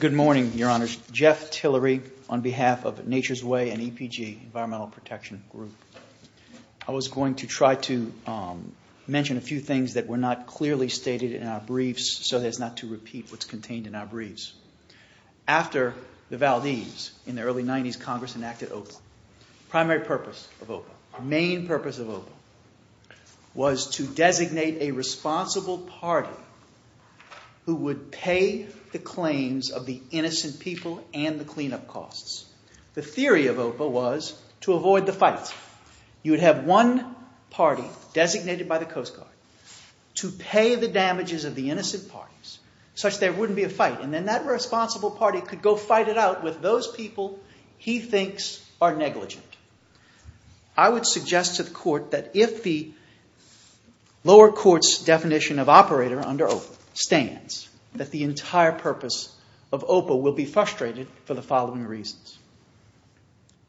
Good morning, Your Honors. Jeff Tillery on behalf of Nature's Way and EPG, Environmental Protection Group. I was going to try to mention a few things that were not clearly stated in our briefs so as not to repeat what's contained in our briefs. After the Valdez, in the early 90s, Congress enacted OPA. The primary purpose of OPA, the main purpose of OPA was to designate a responsible party who would pay the claims of the innocent people and the cleanup costs. The theory of OPA was to avoid the fight. You would have one party designated by the Coast Guard to pay the damages of the innocent parties, such there wouldn't be a fight, and then that responsible party could go fight it out with those people he thinks are negligent. I would suggest to the Court that if the lower court's definition of operator under OPA stands, that the entire purpose of OPA will be frustrated for the following reasons.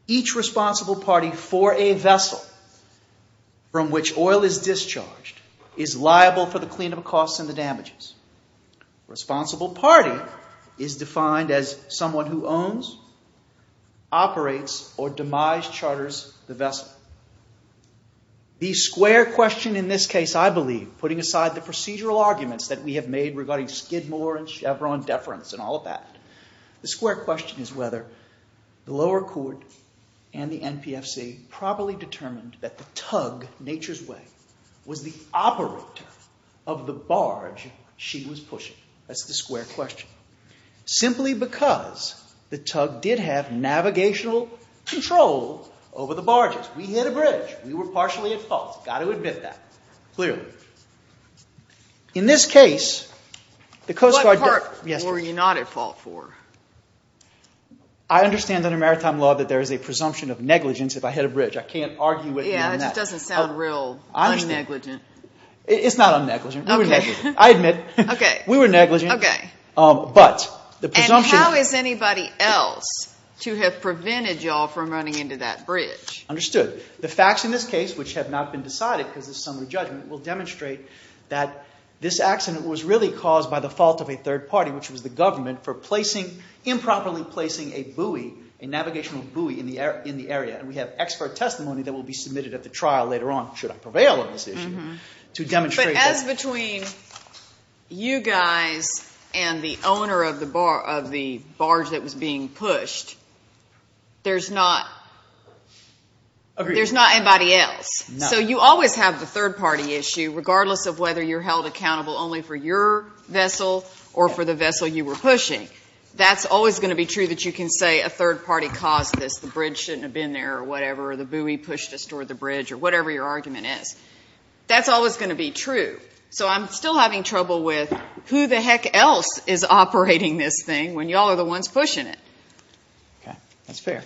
Each responsible party for a vessel from which oil is discharged is liable for the cleanup costs and the damages. Responsible party is defined as someone who owns, operates, or demise charters the vessel. The square question in this case, I believe, putting aside the procedural arguments that we have made regarding Skidmore and Chevron deference and all of that, the square question is whether the lower court and the NPFC properly determined that the tug, nature's way, was the operator of the barge she was pushing. That's the square question. Simply because the tug did have navigational control over the barges. We hit a bridge. We were partially at fault. Got to admit that. Clearly. In this case, the Coast Guard... What part were you not at fault for? I understand under maritime law that there is a presumption of negligence if I hit a bridge. I can't argue with you on that. Yeah, that just doesn't sound real un-negligent. It's not un-negligent. We were negligent. I admit. We were negligent. How is anybody else to have prevented y'all from running into that bridge? Understood. The facts in this case, which have not been decided because it's a summary judgment, will demonstrate that this accident was really caused by the fault of a third party, which was the government, for improperly placing a buoy, a navigational buoy, in the area. We have expert testimony that will be submitted at the trial later on, should I prevail on this issue, to demonstrate that... Because between you guys and the owner of the barge that was being pushed, there's not anybody else. So you always have the third party issue, regardless of whether you're held accountable only for your vessel or for the vessel you were pushing. That's always going to be true that you can say a third party caused this. The bridge shouldn't have been there, or whatever, or the buoy pushed us toward the bridge, or whatever your argument is. That's always going to be true. So I'm still having trouble with who the heck else is operating this thing when y'all are the ones pushing it. Okay. That's fair.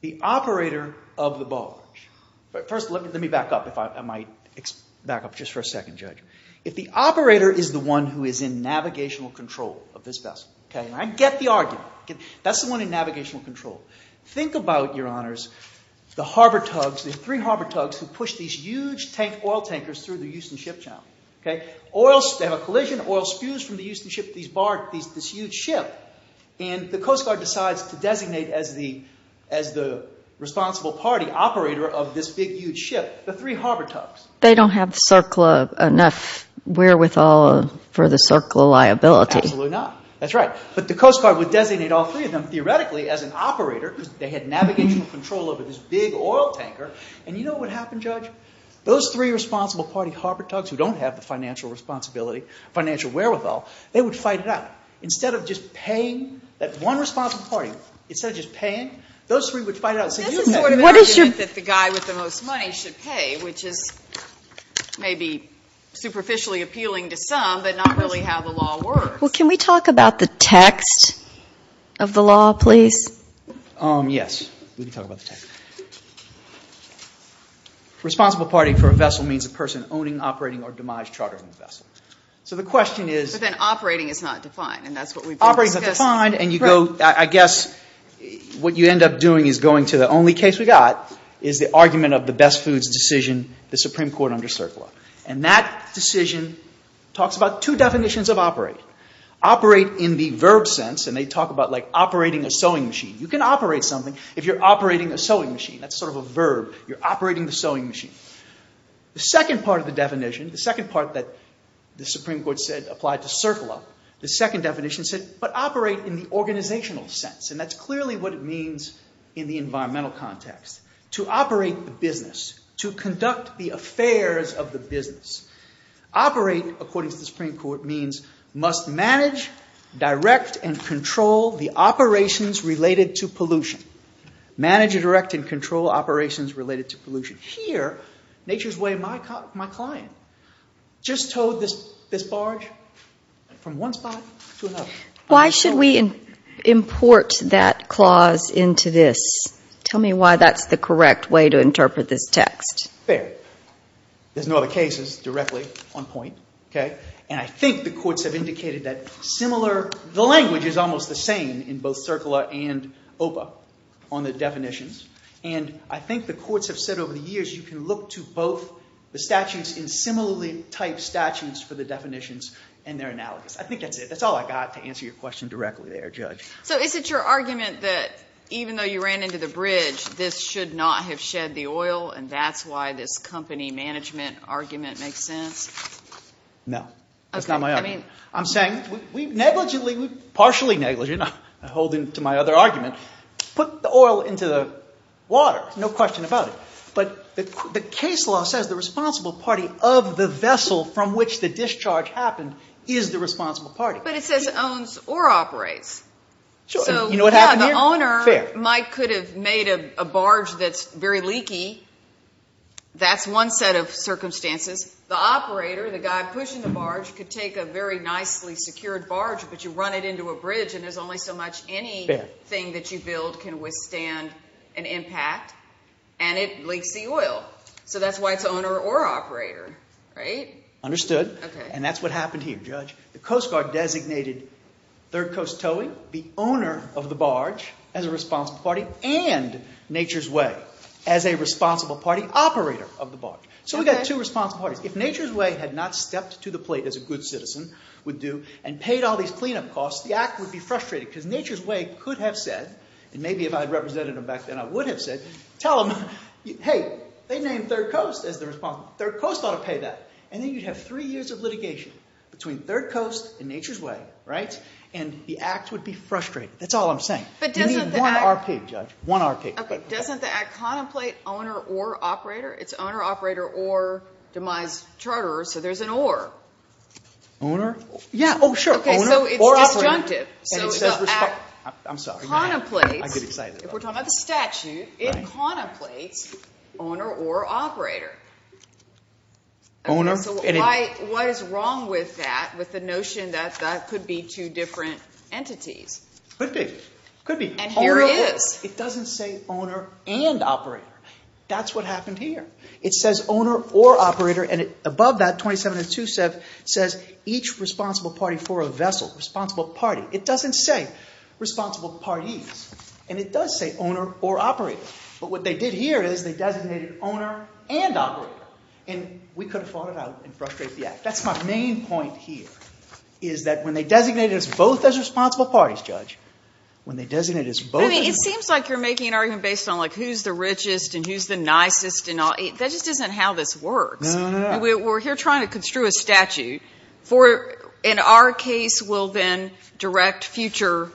The operator of the barge. First, let me back up, if I might, back up just for a second, Judge. If the operator is the one who is in navigational control of this vessel, okay, and I get the argument. That's the one in navigational control. Think about it, Your Honors. The harbor tugs, the three harbor tugs who push these huge tank oil tankers through the Houston ship channel, okay? They have a collision, oil spews from the Houston ship, this huge ship. And the Coast Guard decides to designate as the responsible party operator of this big, huge ship, the three harbor tugs. They don't have CERCLA enough wherewithal for the CERCLA liability. Absolutely not. That's right. But the Coast Guard would designate all three of them, theoretically, as an operator because they had navigational control over this big oil tanker. And you know what happened, Judge? Those three responsible party harbor tugs who don't have the financial responsibility, financial wherewithal, they would fight it out. Instead of just paying that one responsible party, instead of just paying, those three would fight it out. This is sort of an argument that the guy with the most money should pay, which is maybe superficially appealing to some, but not really how the law works. Well, can we talk about the text of the law, please? Yes, we can talk about the text. Responsible party for a vessel means a person owning, operating, or demise chartering the vessel. So the question is... But then operating is not defined, and that's what we... Operating is not defined, and you go, I guess, what you end up doing is going to the only case we got is the argument of the best foods decision, the Supreme Court under CERCLA. And that decision talks about two definitions of operate. Operate in the verb sense, and they talk about like operating a sewing machine. You can operate something if you're operating a sewing machine. That's sort of a verb. You're operating the sewing machine. The second part of the definition, the second part that the Supreme Court said applied to CERCLA, the second definition said, but operate in the organizational sense. And that's clearly what it means in the environmental context. To operate the business, to conduct the affairs of the business. Operate, according to the Supreme Court, means must manage, direct, and control the operations related to pollution. Manage, direct, and control operations related to pollution. Here, nature's way, my client just towed this barge from one spot to another. Why should we import that clause into this? Tell me why that's the correct way to interpret this text. Fair. There's no other cases directly on point. And I think the courts have indicated that similar, the language is almost the same in both CERCLA and OPA on the definitions. And I think the courts have said over the years you can look to both the statutes in similarly typed statutes for the definitions and their analogies. I think that's it. That's all I got to answer your question directly there, Judge. So is it your argument that even though you ran into the bridge, this should not have shed the oil, and that's why this company management argument makes sense? No. That's not my argument. I'm saying, we negligently, partially negligently, I hold into my other argument, put the oil into the water, no question about it. But the case law says the responsible party of the vessel from which the discharge happened is the responsible party. But it says owns or operates. So, yeah, the If you've made a barge that's very leaky, that's one set of circumstances. The operator, the guy pushing the barge, could take a very nicely secured barge, but you run it into a bridge and there's only so much anything that you build can withstand an impact, and it leaks the oil. So that's why it's owner or operator, right? Understood. And that's what happened here, Judge. The Coast Guard designated Third Coast Towing the owner of the barge as a responsible party and Nature's Way as a responsible party operator of the barge. So we've got two responsible parties. If Nature's Way had not stepped to the plate as a good citizen would do and paid all these cleanup costs, the Act would be frustrated because Nature's Way could have said, and maybe if I had represented them back then I would have said, tell them, hey, they named Third Coast as the responsible. Third Coast ought to pay that. And then you'd have three years of litigation between Third Coast and Nature's Way, and the Act would be frustrated. That's all I'm saying. You need one RP, Judge. One RP. Doesn't the Act contemplate owner or operator? It's owner, operator, or demise charterer, so there's an or. Owner? Yeah. Oh, sure. Owner or operator. Okay, so it's disjunctive. I'm sorry. The Act contemplates, if we're talking about the statute, it contemplates owner or operator. Okay, so what is wrong with that, with the notion that that could be two different entities? Could be. Could be. And here it is. It doesn't say owner and operator. That's what happened here. It says owner or operator, and above that 27 and 2 says each responsible party for a vessel, responsible party. It doesn't say responsible parties, and it does say owner or operator. But what they did here is they designated owner and operator, and we could have fought it out and frustrated the Act. That's my main point here, is that when they designated us both as responsible parties, Judge, when they designated us both as responsible parties. I mean, it seems like you're making an argument based on, like, who's the richest and who's the nicest and all. That just isn't how this works. No, no, no. We're here trying to construe a statute for, in our case, we'll then direct future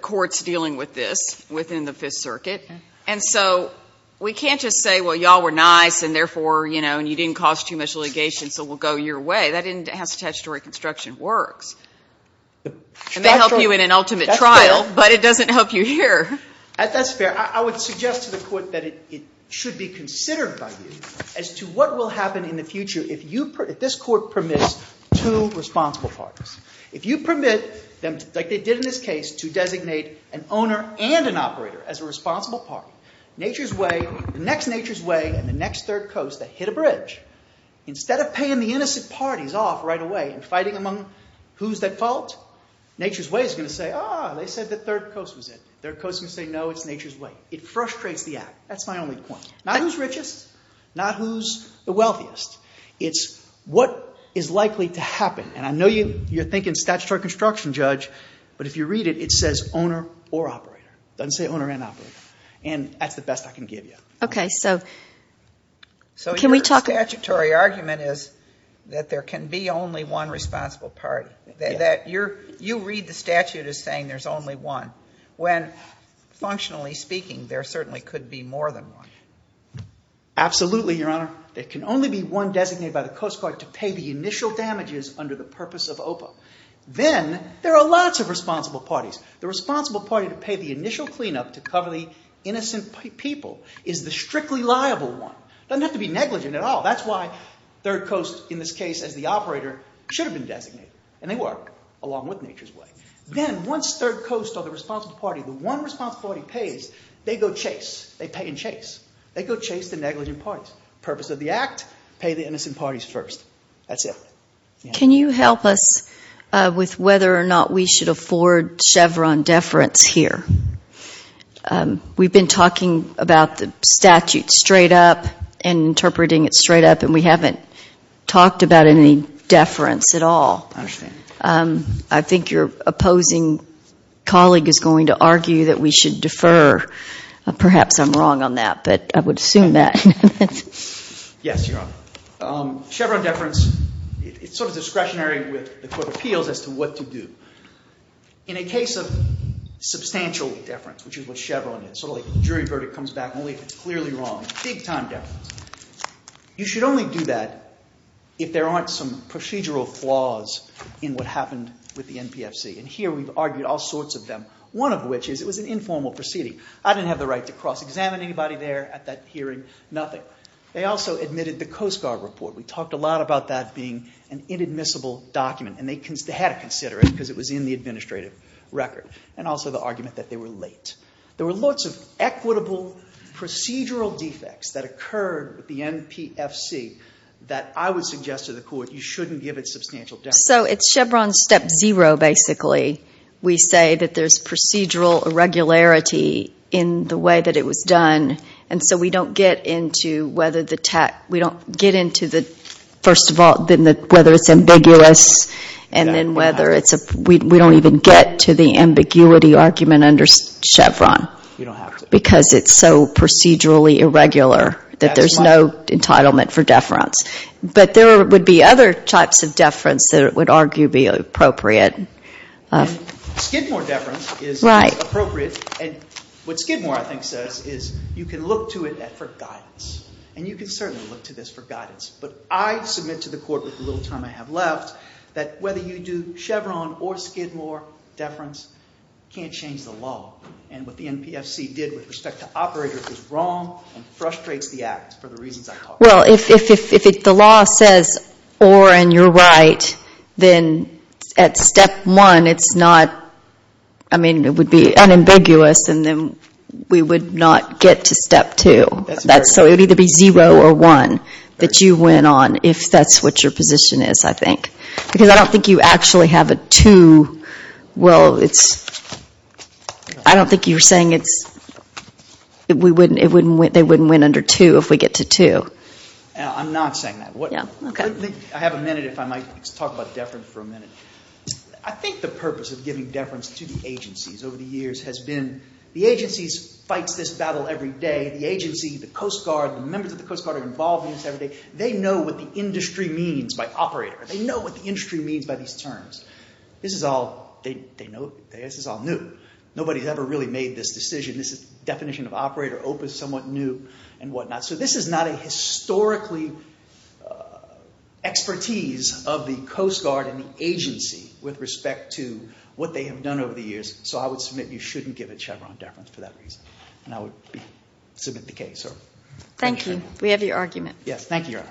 courts dealing with this within the Fifth Circuit, and so we can't just say, well, y'all were nice, and therefore, you know, and you didn't cause too much litigation, so we'll go your way. That has to do with how statutory construction works. And they help you in an ultimate trial, but it doesn't help you here. That's fair. I would suggest to the Court that it should be considered by you as to what will happen in the future if this Court permits two responsible parties. If you permit them, like they did in this case, to designate an owner and an operator as a responsible party, the next Nature's Way and the next Third Coast, they hit a bridge. Instead of paying the innocent parties off right away and fighting among who's at fault, Nature's Way is going to say, ah, they said the Third Coast was it. Third Coast is going to say, no, it's Nature's Way. It frustrates the act. That's my only point. Not who's richest. Not who's the wealthiest. It's what is likely to happen. And I know you're thinking statutory construction, Judge, but if you read it, it says owner or operator. It doesn't say owner and operator. And that's the best I can give you. So your statutory argument is that there can be only one responsible party. You read the statute as saying there's only one when functionally speaking, there certainly could be more than one. Absolutely, Your Honor. There can only be one designated by the Coast Guard to pay the initial damages under the purpose of OPA. Then there are lots of responsible parties. The responsible party to pay the initial cleanup to cover the damages is the strictly liable one. It doesn't have to be negligent at all. That's why Third Coast in this case as the operator should have been designated. And they were along with Nature's Way. Then once Third Coast or the responsible party, the one responsible party pays, they go chase. They pay and chase. They go chase the negligent parties. Purpose of the act, pay the innocent parties first. That's it. Can you help us with whether or not we should afford Chevron deference here? We've been talking about the statute straight up and interpreting it straight up and we haven't talked about any deference at all. I think your opposing colleague is going to argue that we should defer. Perhaps I'm wrong on that, but I would assume that. Yes, Your Honor. Chevron deference, it's sort of discretionary with the Court of Appeals as to what to do. In a case of substantial deference, which is what Chevron is, so the jury verdict comes back only if it's clearly wrong, big time deference, you should only do that if there aren't some procedural flaws in what happened with the NPFC. And here we've argued all sorts of them, one of which is it was an informal proceeding. I didn't have the right to cross-examine anybody there at that hearing, nothing. They also admitted the Coast Guard report. We talked a lot about that being an inadmissible document and they had to consider it because it was in the administrative record. And also the argument that they were late. There were lots of equitable procedural defects that occurred with the NPFC that I would suggest to the Court you shouldn't give it substantial deference. So it's Chevron step zero, basically. We say that there's procedural irregularity in the way that it was done and so we don't get into whether the tech, we don't get into the, whether it's ambiguous and then whether it's, we don't even get to the ambiguity argument under Chevron. Because it's so procedurally irregular that there's no entitlement for deference. But there would be other types of deference that it would argue be appropriate. Skidmore deference is appropriate and what Skidmore I think says is you can look to it for guidance. And you can certainly look to this for guidance. But I submit to the Court with the little time I have left that whether you do Chevron or Skidmore deference, can't change the law. And what the NPFC did with respect to operators is wrong and frustrates the Act for the reasons I talked about. Well if the law says or and you're right, then at step one it's not, I mean it would be unambiguous and then we would not get to step two. So it would either be went on if that's what your position is I think. Because I don't think you actually have a two, well it's I don't think you're saying it's, they wouldn't win under two if we get to two. I'm not saying that. I have a minute if I might talk about deference for a minute. I think the purpose of giving deference to the agencies over the years has been the agencies fights this battle every day. The agency, the Coast Guard, the members of the Coast Guard are involved in this every day. They know what the industry means by operator. They know what the industry means by these terms. This is all, they know, this is all new. Nobody's ever really made this decision. This is definition of operator, OPA is somewhat new and what not. So this is not a historically expertise of the Coast Guard and the agency with respect to what they have done over the years. So I would submit you shouldn't give a Chevron deference for that reason. And I would be happy to submit the case. Thank you. We have your argument. Yes. Thank you, Your Honor.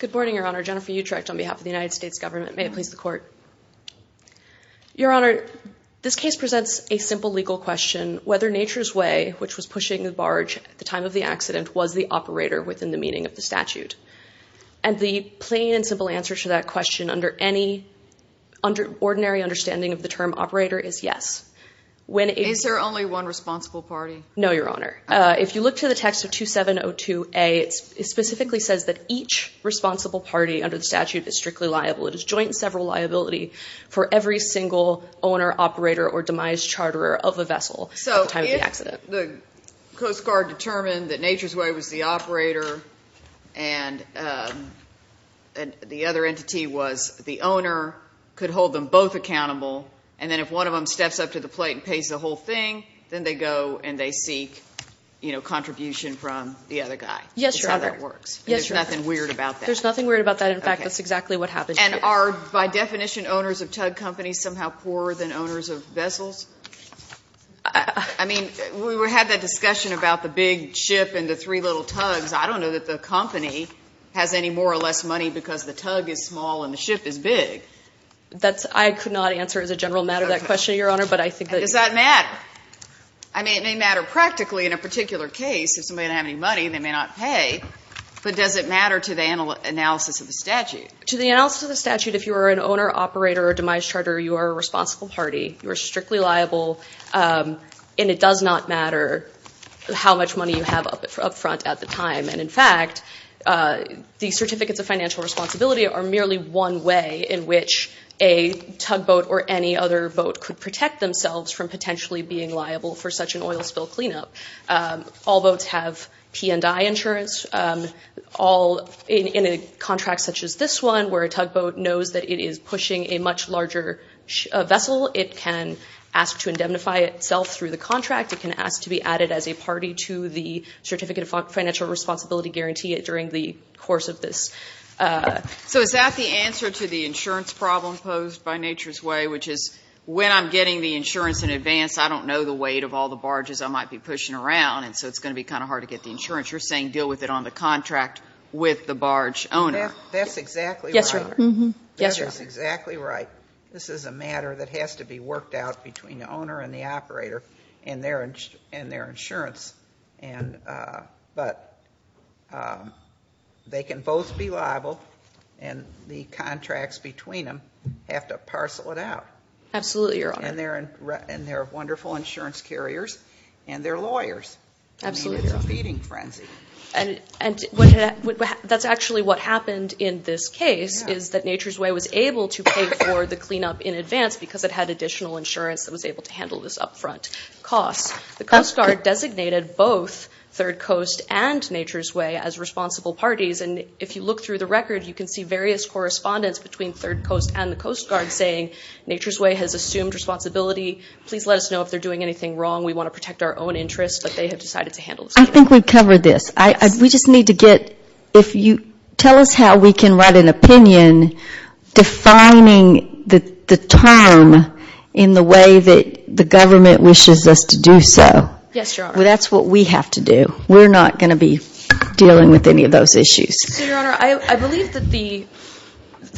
Good morning, Your Honor. Jennifer Utrecht on behalf of the United States Government. May it please the Court. Your Honor, this case presents a simple legal question whether Nature's Way, which was pushing the barge at the time of the accident was the operator within the meaning of the statute. And the plain and simple answer to that question under any ordinary understanding of the term operator is yes. Is there only one responsible party? No, Your Honor. If you look to the text of 2702A it specifically says that each responsible party under the statute is strictly liable. It is joint and several liability for every single owner operator or demise charterer of a vessel at the time of the accident. So if the Coast Guard determined that Nature's Way was the operator and the other entity was the owner could hold them both accountable and then if one of them steps up to the plate and pays the whole thing, then they go and they seek contribution from the other guy. Yes, Your Honor. That's how that works. There's nothing weird about that. There's nothing weird about that. In fact, that's exactly what happened. And are by definition owners of tug companies somehow poorer than owners of vessels? I mean, we had that discussion about the big ship and the three little tugs. I don't know that the company has any more or less money because the tug is small and the ship is big. I could not answer as a general matter that question, Your Honor, but I think that... Does that matter? I mean, it may matter practically in a particular case. If somebody doesn't have any money, they may not pay. But does it matter to the analysis of the statute? To the operator or demise charter, you are a responsible party. You are strictly liable and it does not matter how much money you have up front at the time. And in fact, the certificates of financial responsibility are merely one way in which a tugboat or any other boat could protect themselves from potentially being liable for such an oil spill cleanup. All boats have P&I insurance. In a contract such as this one, where a boat is a much larger vessel, it can ask to indemnify itself through the contract. It can ask to be added as a party to the certificate of financial responsibility guarantee during the course of this. So is that the answer to the insurance problem posed by nature's way, which is when I'm getting the insurance in advance, I don't know the weight of all the barges I might be pushing around, and so it's going to be kind of hard to get the insurance. You're saying deal with it on the contract with the barge owner. That's exactly right. This is a matter that has to be worked out between the owner and the operator and their insurance. They can both be liable and the contracts between them have to parcel it out. And they're wonderful insurance carriers and they're lawyers. It's a feeding frenzy. That's actually what happened in this case is that nature's way was able to pay for the cleanup in advance because it had additional insurance that was able to handle this up front cost. The Coast Guard designated both third coast and nature's way as responsible parties. And if you look through the record, you can see various correspondence between third coast and the Coast Guard saying nature's way has assumed responsibility. Please let us know if they're doing anything wrong. We want to protect our own interests. I think we've covered this. We just need to get if you tell us how we can write an opinion defining the term in the way that the government wishes us to do so. That's what we have to do. We're not going to be dealing with any of those issues. I believe that the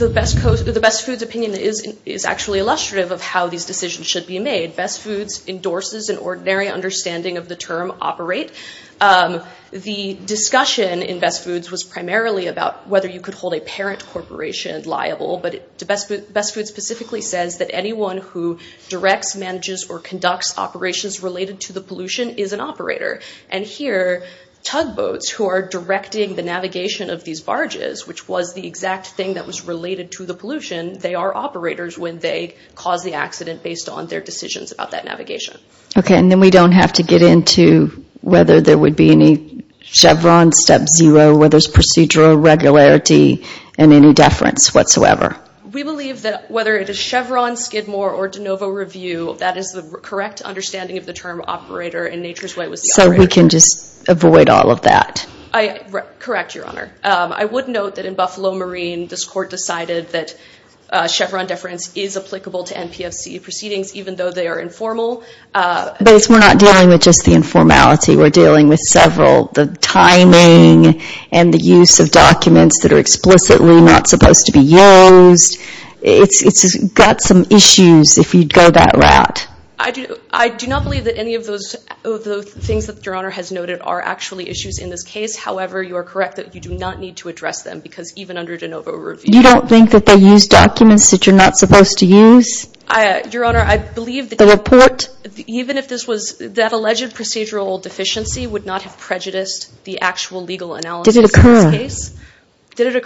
best foods opinion is actually illustrative of how these decisions should be made. Best foods endorses an ordinary understanding of the term operate. The discussion in best foods was primarily about whether you could hold a parent corporation liable. But best foods specifically says that anyone who directs, manages, or conducts operations related to the pollution is an operator. And here, tugboats who are directing the navigation of these barges, which was the exact thing that was related to the pollution, they are operators when they cause the accident based on their decisions about that navigation. Okay, and then we don't have to get into whether there would be any Chevron step zero, whether there's procedural regularity, and any deference whatsoever. We believe that whether it is Chevron, Skidmore, or DeNovo review, that is the correct understanding of the term operator in nature's way. So we can just avoid all of that? Correct, Your Honor. I would note that in Buffalo Marine, this court decided that Chevron deference is applicable to NPFC proceedings, even though they are informal. But we're not dealing with just the informality. We're dealing with several. The timing and the use of documents that are explicitly not supposed to be used. It's got some issues if you go that route. I do not believe that any of those things that Your Honor has noted are actually issues in this case. However, you are correct that you do not need to address them, because even under DeNovo review... You don't think that they use documents that you're not supposed to use? Your Honor, I believe that... The report? Even if this was, that alleged procedural deficiency would not have prejudiced the actual legal analysis of this case. Did it occur? Did it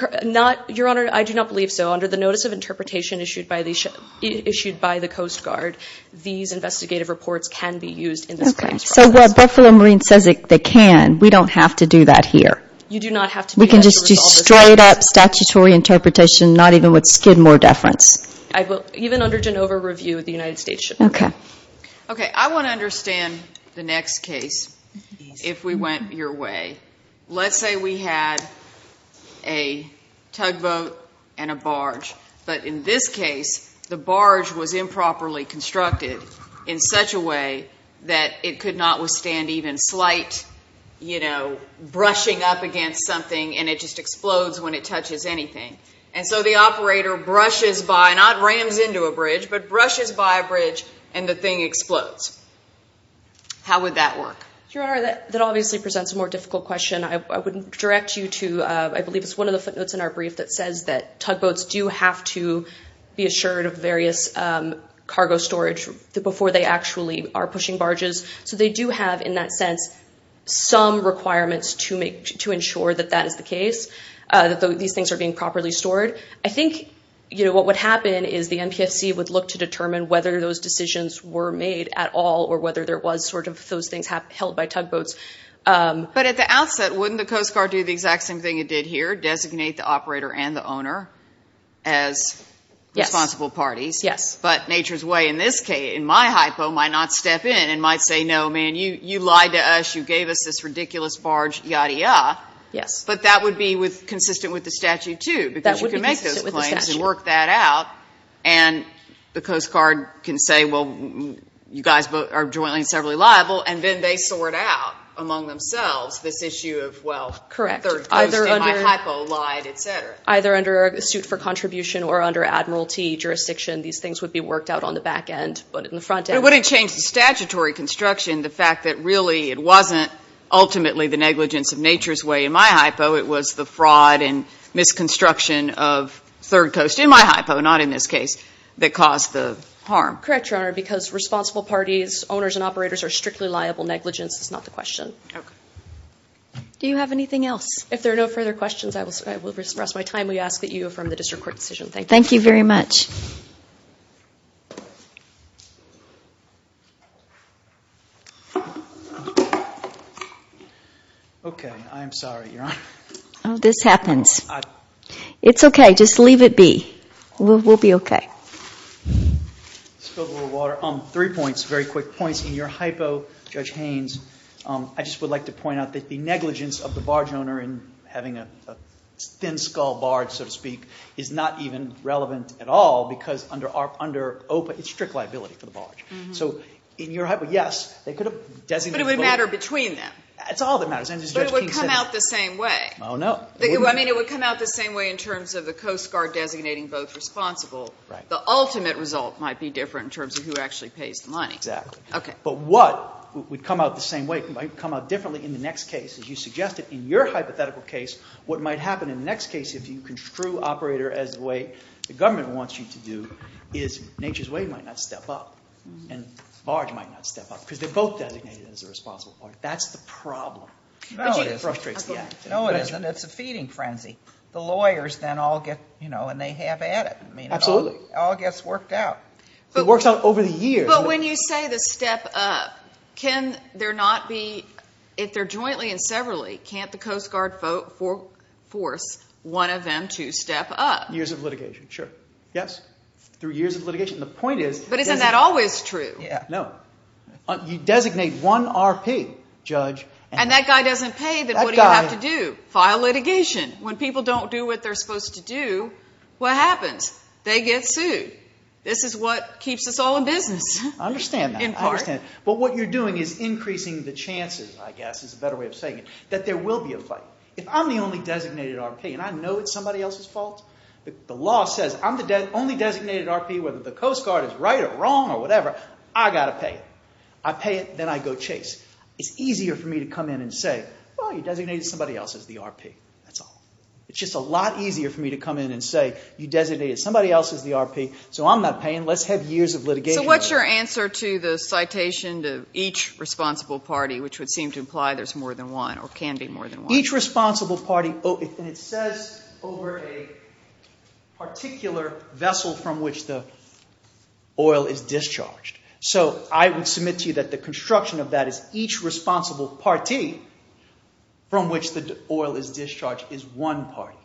occur? Your Honor, I do not believe so. Under the notice of interpretation issued by the Coast Guard, these investigative reports can be used in this case. Okay, so while Buffalo Marine says they can, we don't have to do that here. You do not have to do that to resolve this case. We can just do straight up statutory interpretation, not even with skidmore deference. Even under DeNovo review, the United States should not. Okay, I want to understand the next case if we went your way. Let's say we had a tugboat and a barge, but in this case the barge was improperly constructed in such a way that it could not withstand even slight brushing up against something and it just explodes when it touches anything. And so the operator brushes by, not rams into a bridge, but brushes by a bridge and the thing explodes. How would that work? Your Honor, that obviously presents a more difficult question. I would direct you to, I believe it's one of the footnotes in our brief that says that tugboats do have to be assured of various cargo storage before they actually are pushing barges. So they do have, in that sense, some requirements to ensure that that is the case, that these things are being properly stored. I think what would happen is the NPFC would look to determine whether those decisions were made at all or whether there was sort of those things held by tugboats. But at the outset, wouldn't the Coast Guard do the exact same thing it did here, designate the operator and the owner as responsible parties? Yes. But nature's way in my hypo might not step in and might say, no, man, you lied to us, you gave us this ridiculous barge, yadda yadda. Yes. But that would be consistent with the statute, too, because you can make those claims and work that out and the Coast Guard can say, well, you guys are jointly and severally liable, and then they sort out among themselves this issue of, well, third coast in my hypo lied, etc. Either under a suit for contribution or under Admiralty jurisdiction, these things would be worked out on the back end, but in the front end... But it wouldn't change the statutory construction, the fact that really it wasn't ultimately the negligence of nature's way in my hypo, it was the fraud and misconstruction of third coast in my hypo, not in this case, that caused the harm. Correct, Your Honor, because responsible parties, owners and operators are strictly liable. Negligence is not the question. Okay. Do you have anything else? If there are no further questions, I will rest my time. We ask that you affirm the district court decision. Thank you very much. Okay. I am sorry, Your Honor. Oh, this happens. It's okay. Just leave it be. We'll be okay. Spilled a little water. Three points, very quick points. In your hypo, Judge Haynes, I just would like to point out that the negligence of the barge owner in having a thin skull barge, so to speak, is not even relevant at all because it's strict liability for the barge. So in your hypo, yes, they could have designated... But it would matter between them. It's all that matters. But it would come out the same way. Oh, no. I mean, it would come out the same way in terms of the Coast Guard designating both responsible. The ultimate result might be different in terms of who actually pays the money. Exactly. But what would come out the same way might come out differently in the next case. As you suggested, in your hypothetical case, what might happen in the next case if you construe operator as the way the government wants you to do is Nature's Way might not step up and barge might not step up because they're both designated as a responsible part. That's the problem. No, it isn't. It frustrates the act. No, it isn't. It's a feeding frenzy. The lawyers then all get, you know, and they have at it. Absolutely. It all gets worked out. It works out over the years. But when you say the step up, can there not be... If they're jointly and severally, can't the Coast Guard force one of them to step up? Years of litigation, sure. Yes. Through years of litigation. The point is... But isn't that always true? No. You designate one RP, judge... And that guy doesn't pay, then what do you have to do? File litigation. When people don't do what they're supposed to do, what happens? They get sued. This is what keeps us all in business. I understand that. But what you're doing is increasing the chances, I guess is a better way of saying it, that there will be a fight. If I'm the only designated RP and I know it's somebody else's fault, the law says I'm the only designated RP, whether the Coast Guard is right or wrong or whatever, I gotta pay. I pay it, then I go chase. It's easier for me to come in and say, well, you designated somebody else as the RP. That's all. It's just a lot easier for me to come in and say, you designated somebody else as the RP, so I'm not paying. Let's have years of litigation. So what's your answer to the citation to each responsible party, which would seem to imply there's more than one or can be more than one? Each responsible party, and it says over a particular vessel from which the oil is discharged. So I would submit to you that the construction of that is each responsible party from which the oil is discharged is one party.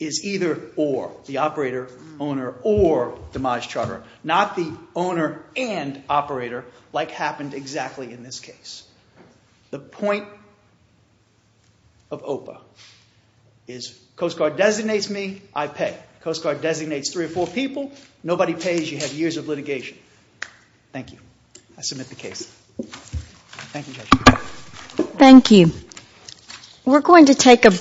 Is either or. The operator, owner, or demise charter. Not the owner and operator like happened exactly in this case. The point of OPA is Coast Guard designates me, I pay. Coast Guard designates three or four people, nobody pays, you have years of litigation. Thank you. I submit the case. Thank you, Judge.